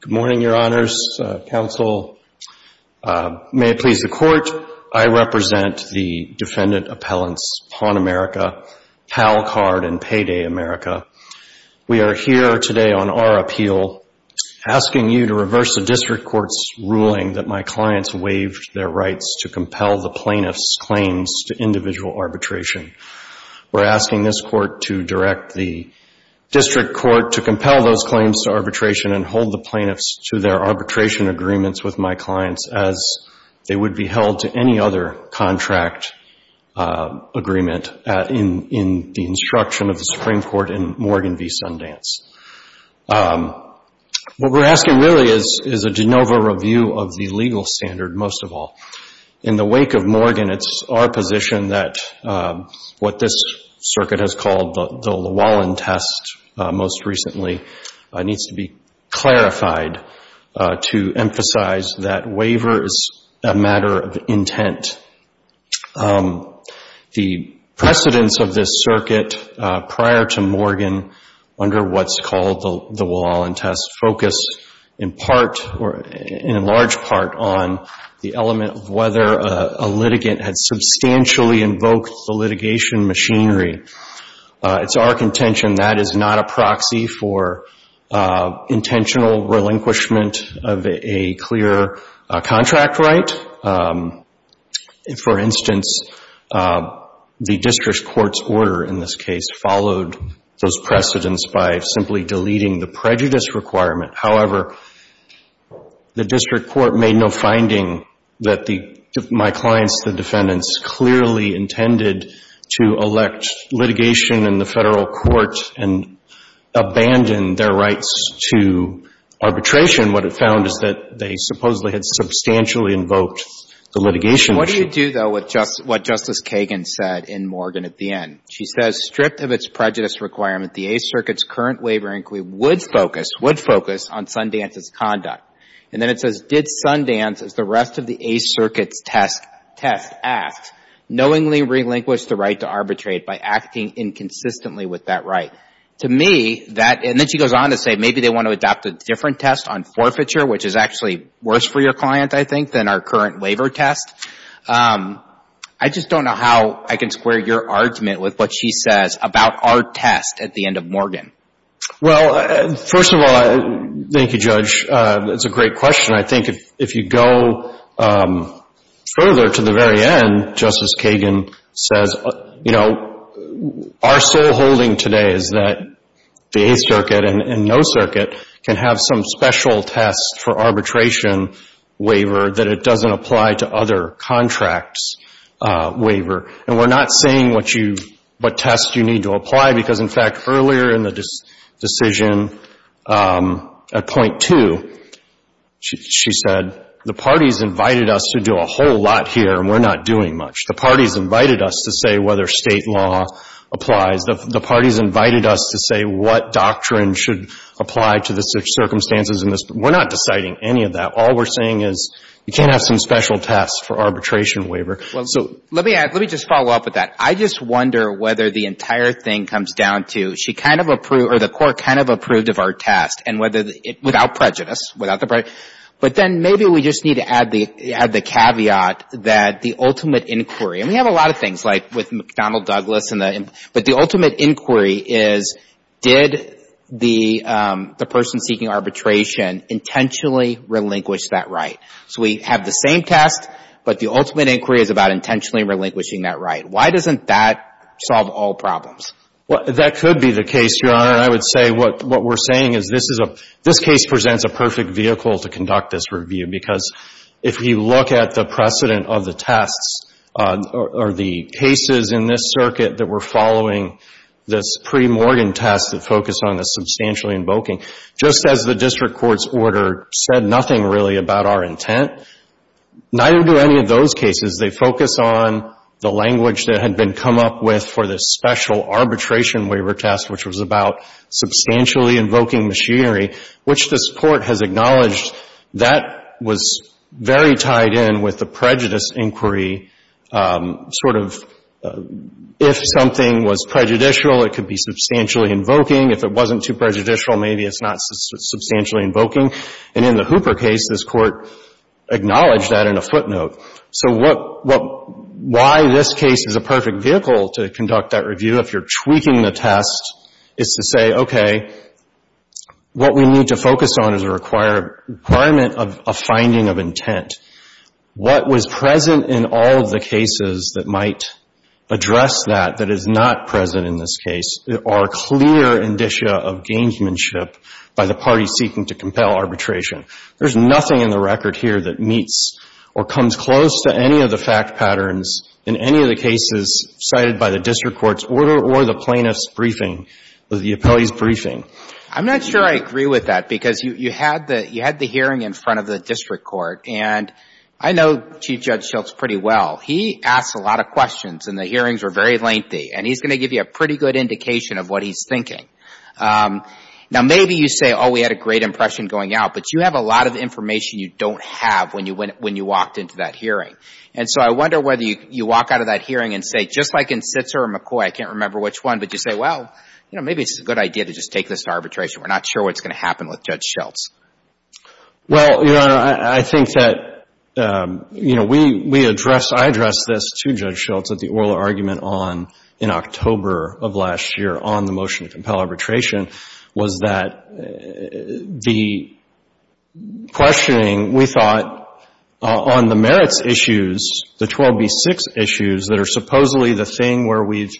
Good morning, Your Honors. Counsel, may it please the Court, I represent the defendant appellants Pawn America, Pal Card, and Payday America. We are here today on our appeal asking you to reverse the district court's ruling that my clients waived their rights to compel the plaintiff's claims to individual arbitration. We're asking this court to direct the district court to compel those claims to arbitration and hold the plaintiffs to their arbitration agreements with my clients as they would be held to any other contract agreement in the instruction of the Supreme Court in Morgan v. Sundance. What we're asking really is a de novo review of the legal standard, most of all. In the wake of Morgan, it's our position that what this circuit has called the Llewellyn test most recently needs to be clarified to emphasize that waiver is a matter of intent. The precedence of this circuit prior to Morgan under what's called the Llewellyn test focused in part or in large part on the element of whether a litigant had substantially invoked the litigation machinery. It's our contention that is not a proxy for intentional relinquishment of a clear contract right. For instance, the precedence by simply deleting the prejudice requirement. However, the district court made no finding that my clients, the defendants, clearly intended to elect litigation in the Federal court and abandon their rights to arbitration. What it found is that they supposedly had substantially invoked the litigation machinery. What do you do, though, with what Justice Kagan said in Morgan at the end? She says stripped of its prejudice requirement, the Eighth Circuit's current waiver inquiry would focus on Sundance's conduct. And then it says, did Sundance, as the rest of the Eighth Circuit's test asked, knowingly relinquish the right to arbitrate by acting inconsistently with that right? To me, that, and then she goes on to say maybe they want to adopt a different test on forfeiture, which is actually worse for your client, I think, than our current about our test at the end of Morgan. Well, first of all, thank you, Judge. It's a great question. I think if you go further to the very end, Justice Kagan says, you know, our sole holding today is that the Eighth Circuit and No Circuit can have some special test for arbitration waiver that it doesn't apply to other contracts waiver. And we're not saying what you, what test you need to apply because, in fact, earlier in the decision at point two, she said the parties invited us to do a whole lot here and we're not doing much. The parties invited us to say whether state law applies. The parties invited us to say what doctrine should apply to the circumstances in this. We're not deciding any of that. All we're saying is you can't have some special test for arbitration waiver. Well, let me add, let me just follow up with that. I just wonder whether the entire thing comes down to she kind of approved, or the court kind of approved of our test and whether the, without prejudice, without the prejudice, but then maybe we just need to add the caveat that the ultimate inquiry, and we have a lot of things like with McDonnell-Douglas and the, but the ultimate inquiry is did the person seeking arbitration intentionally relinquish that right? So we have the same test, but the ultimate inquiry is about intentionally relinquishing that right. Why doesn't that solve all problems? That could be the case, Your Honor. I would say what we're saying is this is a, this case presents a perfect vehicle to conduct this review because if you look at the precedent of the tests, or the cases in this circuit that were following this pre-Morgan test that focused on the substantially invoking, just as the district court's order said nothing really about our intent, neither do any of those cases. They focus on the language that had been come up with for the special arbitration waiver test, which was about substantially invoking machinery, which this Court has in this inquiry sort of, if something was prejudicial, it could be substantially invoking. If it wasn't too prejudicial, maybe it's not substantially invoking. And in the Hooper case, this Court acknowledged that in a footnote. So what, why this case is a perfect vehicle to conduct that review, if you're tweaking the test, is to say, okay, what we need to focus on is a requirement of finding of intent. What was present in all of the cases that might address that, that is not present in this case, are clear indicia of gamesmanship by the parties seeking to compel arbitration. There's nothing in the record here that meets or comes close to any of the fact patterns in any of the cases cited by the district court's order or the plaintiff's briefing, the appellee's briefing. I'm not sure I agree with that because you, you had the, you had the hearing in front of the district court. And I know Chief Judge Schultz pretty well. He asked a lot of questions and the hearings were very lengthy. And he's going to give you a pretty good indication of what he's thinking. Now maybe you say, oh, we had a great impression going out, but you have a lot of information you don't have when you went, when you walked into that hearing. And so I wonder whether you, you walk out of that hearing and say, just like in Sitzer or McCoy, I can't remember which one, but you say, well, you know, maybe it's a good idea to just take this to arbitration. We're not sure what's going to happen with Judge Schultz. Well, Your Honor, I think that, you know, we, we address, I addressed this to Judge Schultz at the oral argument on, in October of last year on the motion to compel arbitration was that the questioning, we thought, on the merits issues, the 12B6 issues that are supposedly the thing where we've,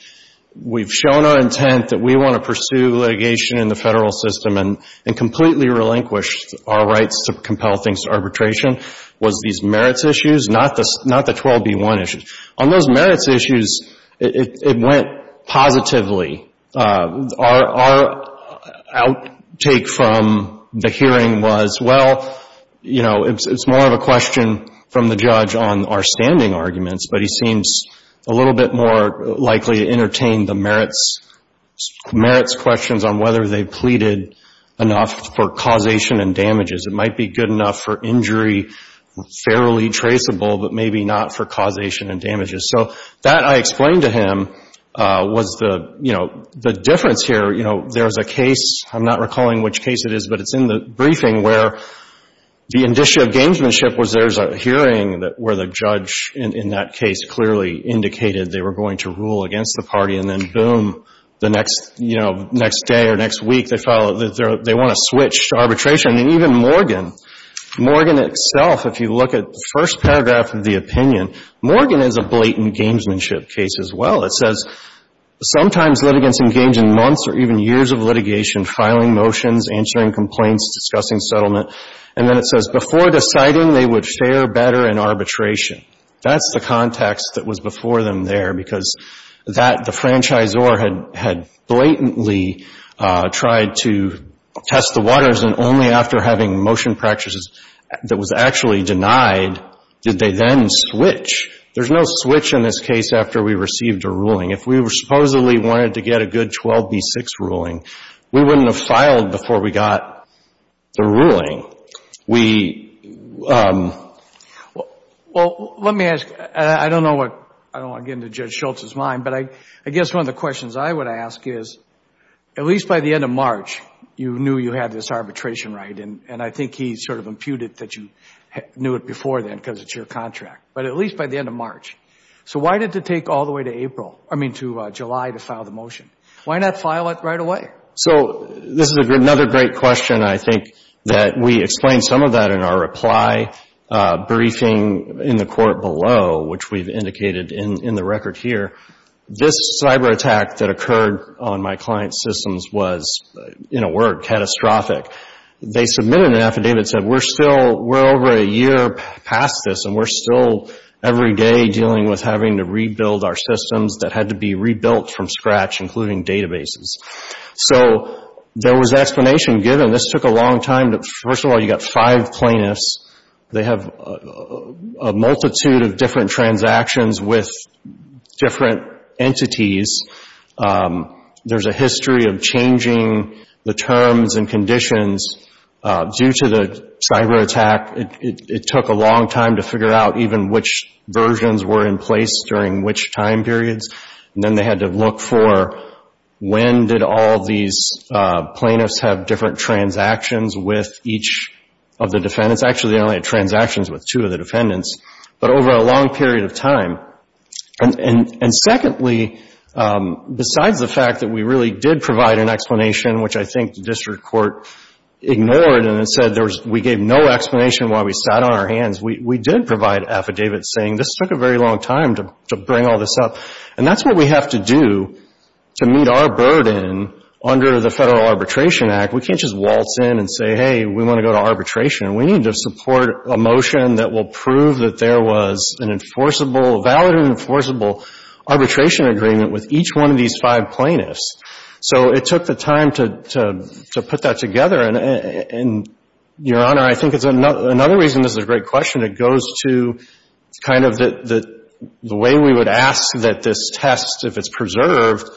we've shown our intent that we want to pursue litigation in the federal system and, and completely relinquished our rights to compel things to arbitration was these merits issues, not the, not the 12B1 issues. On those merits issues, it, it went positively. Our, our outtake from the hearing was, well, you know, it's more of a question from the judge on our standing arguments, but he seems a little bit more likely to entertain the merits, merits questions on whether they pleaded enough for causation and damages. It might be good enough for injury, fairly traceable, but maybe not for causation and damages. So that I explained to him was the, you know, the difference here, you know, there's a case, I'm not recalling which case it is, but it's in the briefing where the indicia of gamesmanship was there's a hearing that, where the judge in, in that case clearly indicated they were going to rule against the party and then boom, the next, you know, next day or next week, they follow, they want to switch to arbitration. And even Morgan, Morgan itself, if you look at the first paragraph of the opinion, Morgan is a blatant gamesmanship case as well. It says, sometimes litigants engage in months or even years of litigation, filing motions, answering complaints, discussing settlement. And then it says, before deciding they would fare better in arbitration. That's the context that was before them there because that, the franchisor had, had blatantly tried to test the waters and only after having motion practices that was actually denied did they then switch. There's no switch in this case after we received a ruling. If we were supposedly wanted to get a good 12B6 ruling, we wouldn't have filed before we got the ruling. We, well, let me ask, I don't know what, I don't want to get into Judge Schultz's mind, but I guess one of the questions I would ask is, at least by the end of March, you knew you had this arbitration right and I think he sort of imputed that you knew it before then because it's your contract, but at least by the end of March. So why did it take all the way to April, I mean, to July to file the motion? Why not file it right away? So this is another great question. I think that we explained some of that in our reply briefing in the court below, which we've indicated in the record here. This cyberattack that occurred on my client's systems was, in a word, catastrophic. They submitted an affidavit that said, we're still, we're over a year past this and we're still every day dealing with having to rebuild our systems that had to be rebuilt from scratch, including databases. So there was explanation given. This took a long time. First of all, you've got five plaintiffs. They have a multitude of different transactions with different entities. There's a history of changing the terms and conditions due to the cyberattack. It took a long time to figure out even which versions were in place during which time periods, and then they had to look for when did all these plaintiffs have different transactions with each of the defendants. Actually, they only had transactions with two of the defendants, but over a long period of time. And secondly, besides the fact that we really did provide an explanation, which I think the district court ignored and said we gave no explanation why we sat on our hands, we did provide affidavits saying this took a very long time to bring all this up. And that's what we have to do to meet our burden under the Federal Arbitration Act. We can't just waltz in and say, hey, we want to go to arbitration. We need to support a motion that will prove that there was an enforceable, valid and enforceable arbitration agreement with each one of these five plaintiffs. So it took the time to put that together. And, Your Honor, I think it's another reason this is a great question. It goes to kind of the way we would ask that this test, if it's preserved,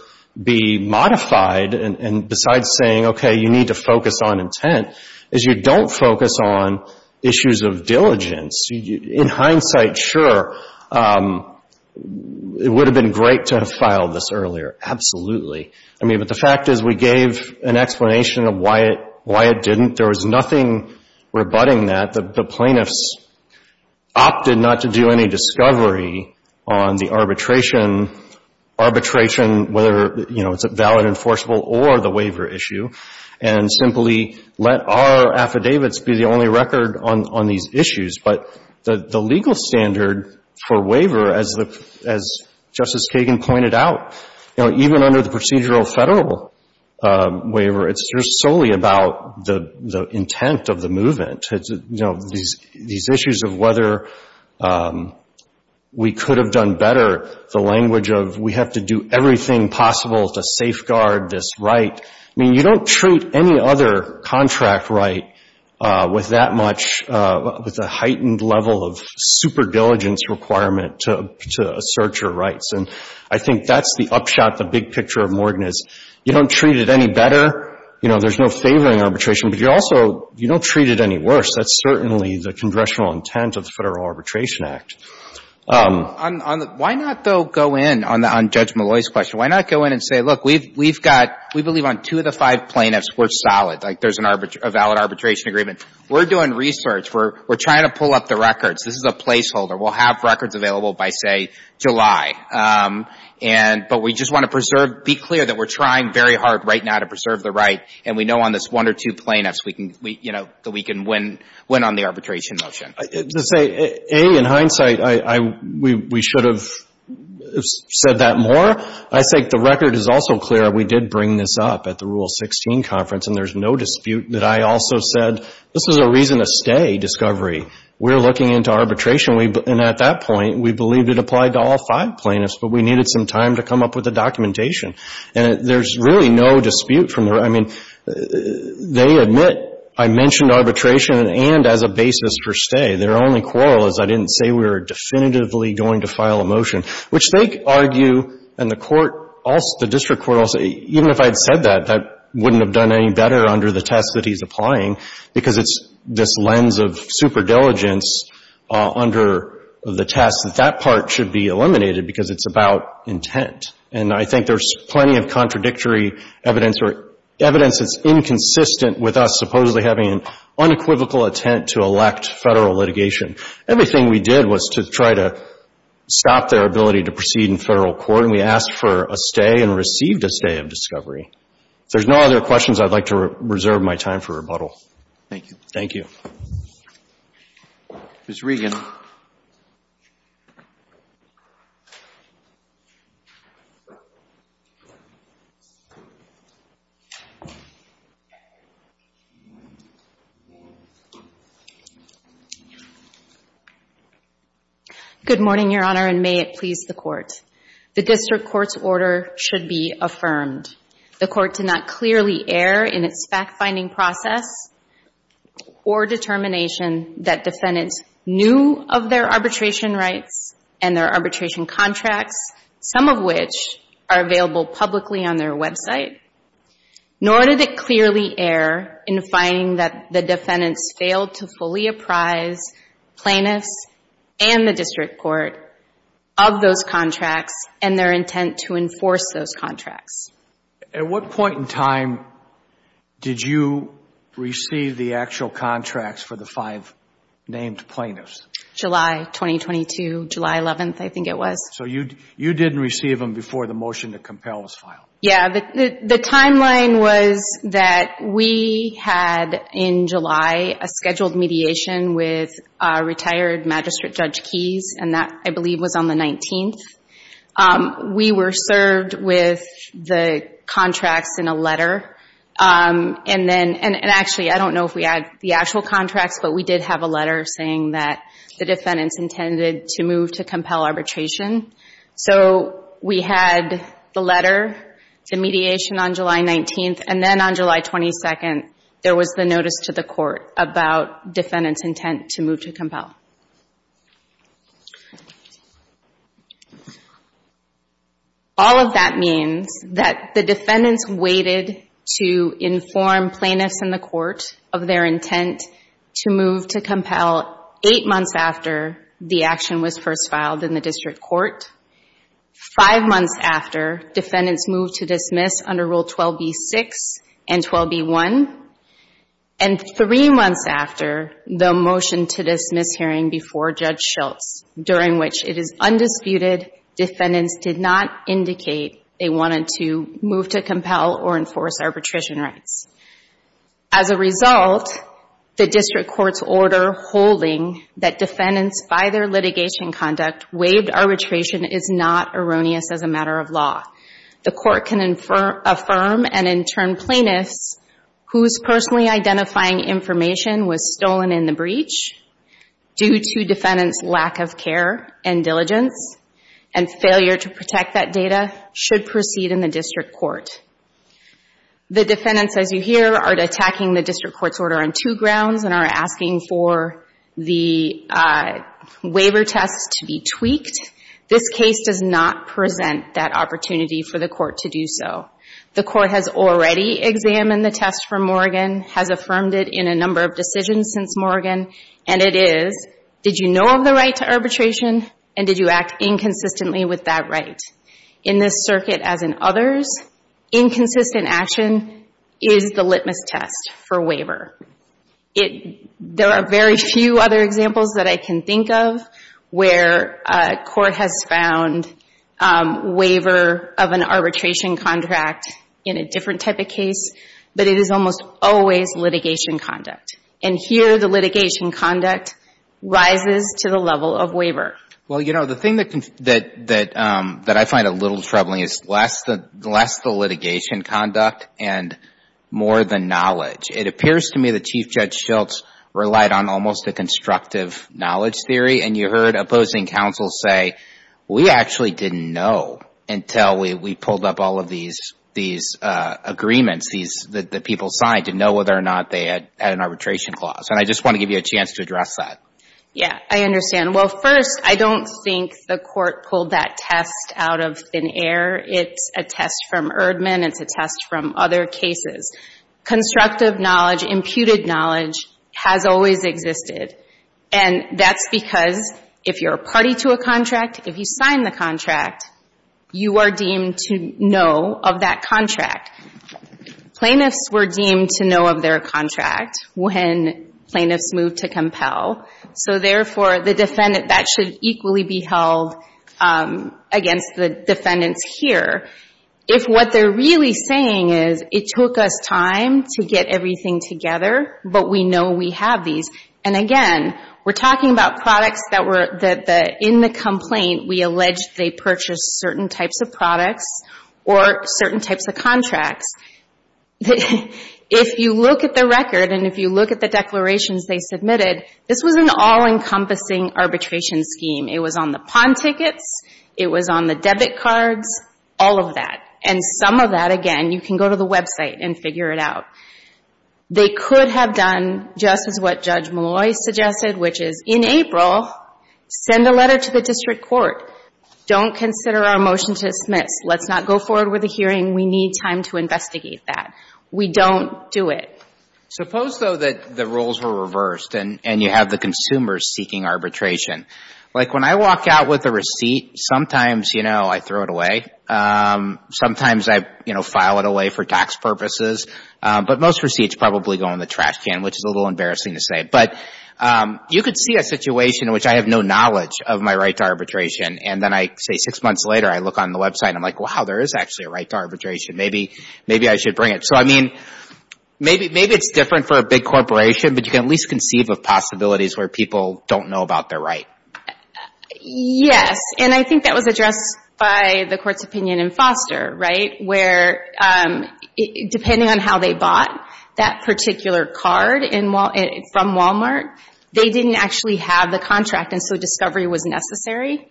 be modified. And besides saying, okay, you need to focus on intent, is you don't focus on issues of diligence. In hindsight, sure, it would have been great to have filed this earlier. Absolutely. I mean, but the reason why it didn't, there was nothing rebutting that. The plaintiffs opted not to do any discovery on the arbitration, arbitration, whether, you know, it's a valid, enforceable or the waiver issue, and simply let our affidavits be the only record on these issues. But the legal standard for waiver, as Justice Kagan pointed out, you know, even under the procedural federal waiver, it's just solely about the intent of the movement. You know, these issues of whether we could have done better, the language of we have to do everything possible to safeguard this right. I mean, you don't treat any other contract right with that much, with a heightened level of super diligence requirement to assert your rights. And I think that's the upshot, the big picture of Morgan is you don't treat it any better. You know, there's no favoring arbitration. But you also, you don't treat it any worse. That's certainly the congressional intent of the Federal Arbitration Act. Why not, though, go in on Judge Molloy's question? Why not go in and say, look, we've got, we believe on two of the five plaintiffs, we're solid. Like, there's a valid arbitration agreement. We're doing research. We're trying to pull up the records. This is a placeholder. We'll have records available by, say, July. And, but we just want to preserve, be clear that we're trying very hard right now to preserve the right, and we know on this one or two plaintiffs we can, you know, that we can win on the arbitration motion. To say, A, in hindsight, we should have said that more. I think the record is also clear we did bring this up at the Rule 16 conference, and there's no dispute that I also said this is a reason to stay, discovery. We're looking into arbitration, and at that point, we believed it applied to all five plaintiffs, but we needed some time to come up with the documentation. And there's really no dispute from the, I mean, they admit, I mentioned arbitration and as a basis for stay. Their only quarrel is I didn't say we were definitively going to file a motion, which they argue, and the court also, the district court also, even if I had said that, that wouldn't have done any better under the test that he's applying because it's this lens of super diligence under the test that that part should be eliminated because it's about intent. And I think there's plenty of contradictory evidence or evidence that's inconsistent with us supposedly having an unequivocal attempt to elect Federal litigation. Everything we did was to try to stop their ability to proceed in Federal court, and we asked for a stay and received a stay of discovery. If there's no other questions, I'd like to reserve my time for rebuttal. Thank you. Thank you. Ms. Regan. Good morning, Your Honor, and may it please the Court. The district court's order should be affirmed. The court did not clearly err in its fact-finding process or determination that defendants knew of their arbitration rights and their arbitration contracts, some of which are available publicly on their website, nor did it clearly err in finding that the defendants failed to fully apprise plaintiffs and the district court of those contracts and their intent to enforce those contracts. At what point in time did you receive the actual contracts for the five named plaintiffs? July 2022, July 11th, I think it was. So you didn't receive them before the motion to compel was filed? Yeah. The timeline was that we had in July a scheduled mediation with retired Magistrate Judge Keyes, and that, I believe, was on the 19th. We were served with the contracts in a letter. And actually, I don't know if we had the actual contracts, but we did have a letter saying that the defendants intended to move to compel arbitration. So we had the letter, the mediation on July 19th, and then on July 22nd, there was the notice to the district court. All of that means that the defendants waited to inform plaintiffs and the court of their intent to move to compel eight months after the action was first filed in the district court, five months after defendants moved to dismiss under Rule 12b-6 and 12b-1, and three months after the motion to dismiss hearing before Judge Schultz, during which it is undisputed defendants did not indicate they wanted to move to compel or enforce arbitration rights. As a result, the district court's order holding that defendants, by their litigation conduct, waived arbitration is not erroneous as a matter of law. The court can affirm and personally identifying information was stolen in the breach due to defendants' lack of care and diligence and failure to protect that data should proceed in the district court. The defendants, as you hear, are attacking the district court's order on two grounds and are asking for the waiver tests to be tweaked. This case does not present that opportunity for the court to do so. The court has already examined the test for Morgan, has affirmed it in a number of decisions since Morgan, and it is, did you know of the right to arbitration and did you act inconsistently with that right? In this circuit, as in others, inconsistent action is the litmus test for waiver. There are very few other examples that I can think of where a court has found waiver of an arbitration contract in a different type of case, but it is almost always litigation conduct, and here the litigation conduct rises to the level of waiver. Well, you know, the thing that I find a little troubling is less the litigation conduct and more the knowledge. It appears to me that Chief Judge Schultz relied on almost a constructive knowledge theory and you heard opposing counsel say, we actually didn't know until we pulled up all of these agreements that people signed to know whether or not they had an arbitration clause, and I just want to give you a chance to address that. Yeah, I understand. Well, first, I don't think the court pulled that test out of thin air. It's a test from Erdman. It's a test from other cases. Constructive knowledge, imputed knowledge has always existed, and that's because if you're a party to a contract, if you sign the contract, you are deemed to know of that contract. Plaintiffs were deemed to know of their contract when plaintiffs moved to compel, so therefore, the defendant, that should equally be held against the defendants here. If what they're really saying is it took us time to get everything together, but we know we have these, and again, we're talking about products that were in the complaint. We allege they purchased certain types of products or certain types of contracts. If you look at the record and if you look at the declarations they submitted, this was an all-encompassing arbitration scheme. It was on the pawn tickets, it was on the debit cards, all of that, and some of that, again, you can go to the website and figure it out. They could have done just as what Judge Malloy suggested, which is in April, send a letter to the district court. Don't consider our motion to dismiss. Let's not go forward with a hearing. We need time to investigate that. We don't do it. Suppose, though, that the rules were reversed and you have the consumers seeking arbitration. Like when I walk out with a receipt, sometimes, you know, I throw it away. Sometimes I, you know, file it away for tax purposes, but most receipts probably go in the trash can, which is a little embarrassing to say. But you could see a situation in which I have no knowledge of my right to arbitration, and then I say six months later, I look on the website, I'm like, wow, there is actually a right to arbitration. Maybe I should bring it. So, I mean, maybe it's different for a big corporation, but you can at least conceive of possibilities where people don't know about their right. Yes, and I think that was addressed by the court's opinion in Foster, right, where depending on how they bought that particular card from Walmart, they didn't actually have the contract, and so discovery was necessary.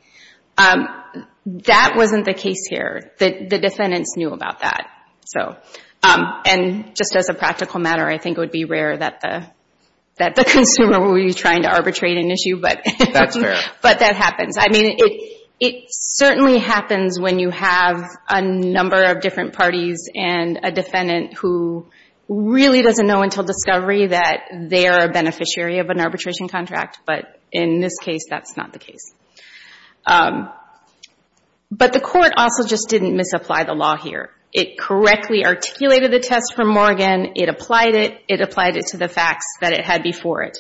That wasn't the case here. The defendants knew about that. So, and just as a practical matter, I think it would be rare that the consumer was trying to arbitrate an issue, but that happens. I mean, it certainly happens when you have a number of different parties and a defendant who really doesn't know until discovery that they are a beneficiary of an arbitration contract, but in this case, that's not the case. But the court also just didn't misapply the law here. It correctly articulated the facts that it had before it.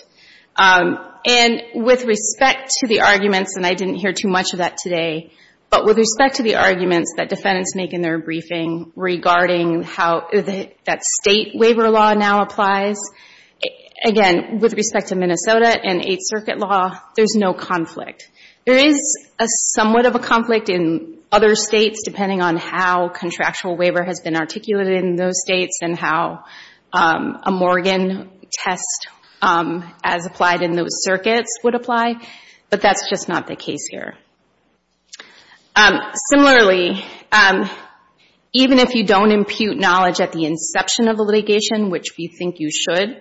And with respect to the arguments, and I didn't hear too much of that today, but with respect to the arguments that defendants make in their briefing regarding how that state waiver law now applies, again, with respect to Minnesota and Eighth Circuit law, there's no conflict. There is somewhat of a conflict in other states depending on how the test as applied in those circuits would apply, but that's just not the case here. Similarly, even if you don't impute knowledge at the inception of the litigation, which we think you should,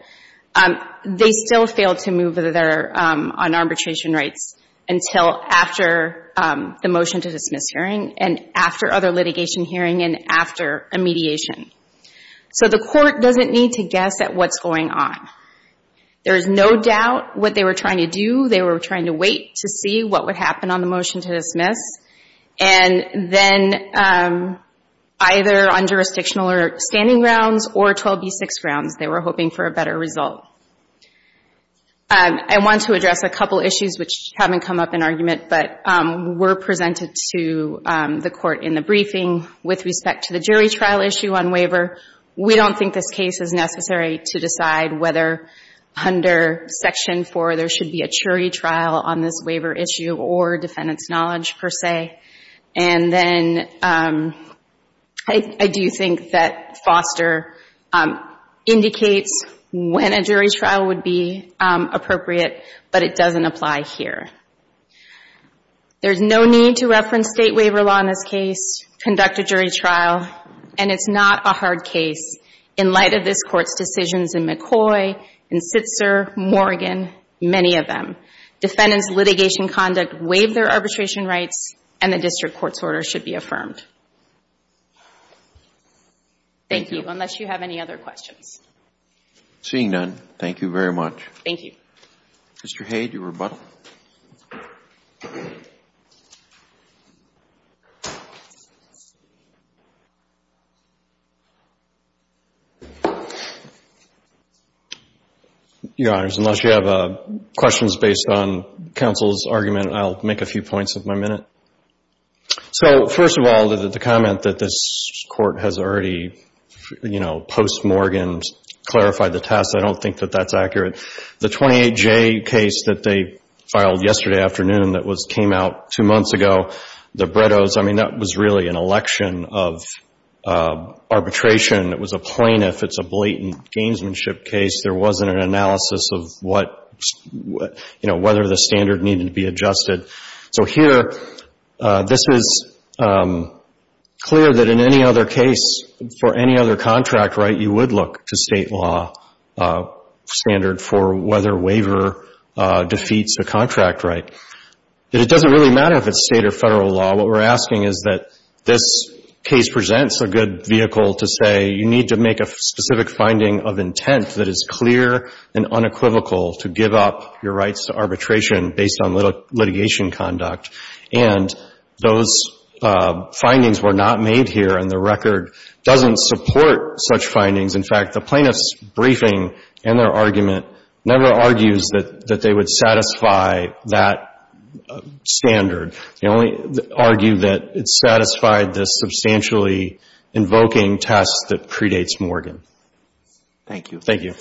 they still fail to move on arbitration rights until after the motion to dismiss hearing and after other litigation hearing and after a mediation. So the court doesn't need to guess at what's going on. There's no doubt what they were trying to do. They were trying to wait to see what would happen on the motion to dismiss, and then either on jurisdictional or standing grounds or 12b-6 grounds, they were hoping for a better result. I want to address a couple issues which haven't come up in argument but were presented to the court in the briefing with respect to the jury trial issue on waiver. We don't think this case is necessary to decide whether under Section 4 there should be a jury trial on this waiver issue or defendant's knowledge, per se. And then I do think that Foster indicates when a jury trial would be appropriate, but it doesn't apply here. There's no need to reference state waiver law in this case, conduct a jury trial, and it's not a hard case in light of this Court's decisions in McCoy, in Sitzer, Morgan, many of them. Defendant's litigation conduct waived their arbitration rights and the district court's order should be affirmed. Thank you, unless you have any other questions. Seeing none, thank you very much. Thank you. Mr. Hayde, your rebuttal. Your Honors, unless you have questions based on counsel's argument, I'll make a few points of my minute. So first of all, the comment that this Court has already, you know, post-Morgan clarified the test, I don't think that that's accurate. The 28J case that they filed yesterday afternoon that came out two months ago, the Bretto's, I mean, that was really an election of arbitration. It was a plaintiff. It's a blatant gamesmanship case. There wasn't an analysis of what, you know, whether the standard needed to be adjusted. So here, this is clear that in any other case, for any other contract right, you would look to State law standard for whether waiver defeats a contract right. It doesn't really matter if it's State or Federal law. What we're asking is that this case presents a good vehicle to say you need to make a specific finding of intent that is clear and unequivocal to give up your rights to arbitration based on litigation conduct. And those findings were not made here, and the record doesn't support such findings. In fact, the plaintiff's briefing and their argument never argues that they would satisfy that standard. They only argue that it satisfied the substantially invoking test that predates Morgan. Thank you. Thank you.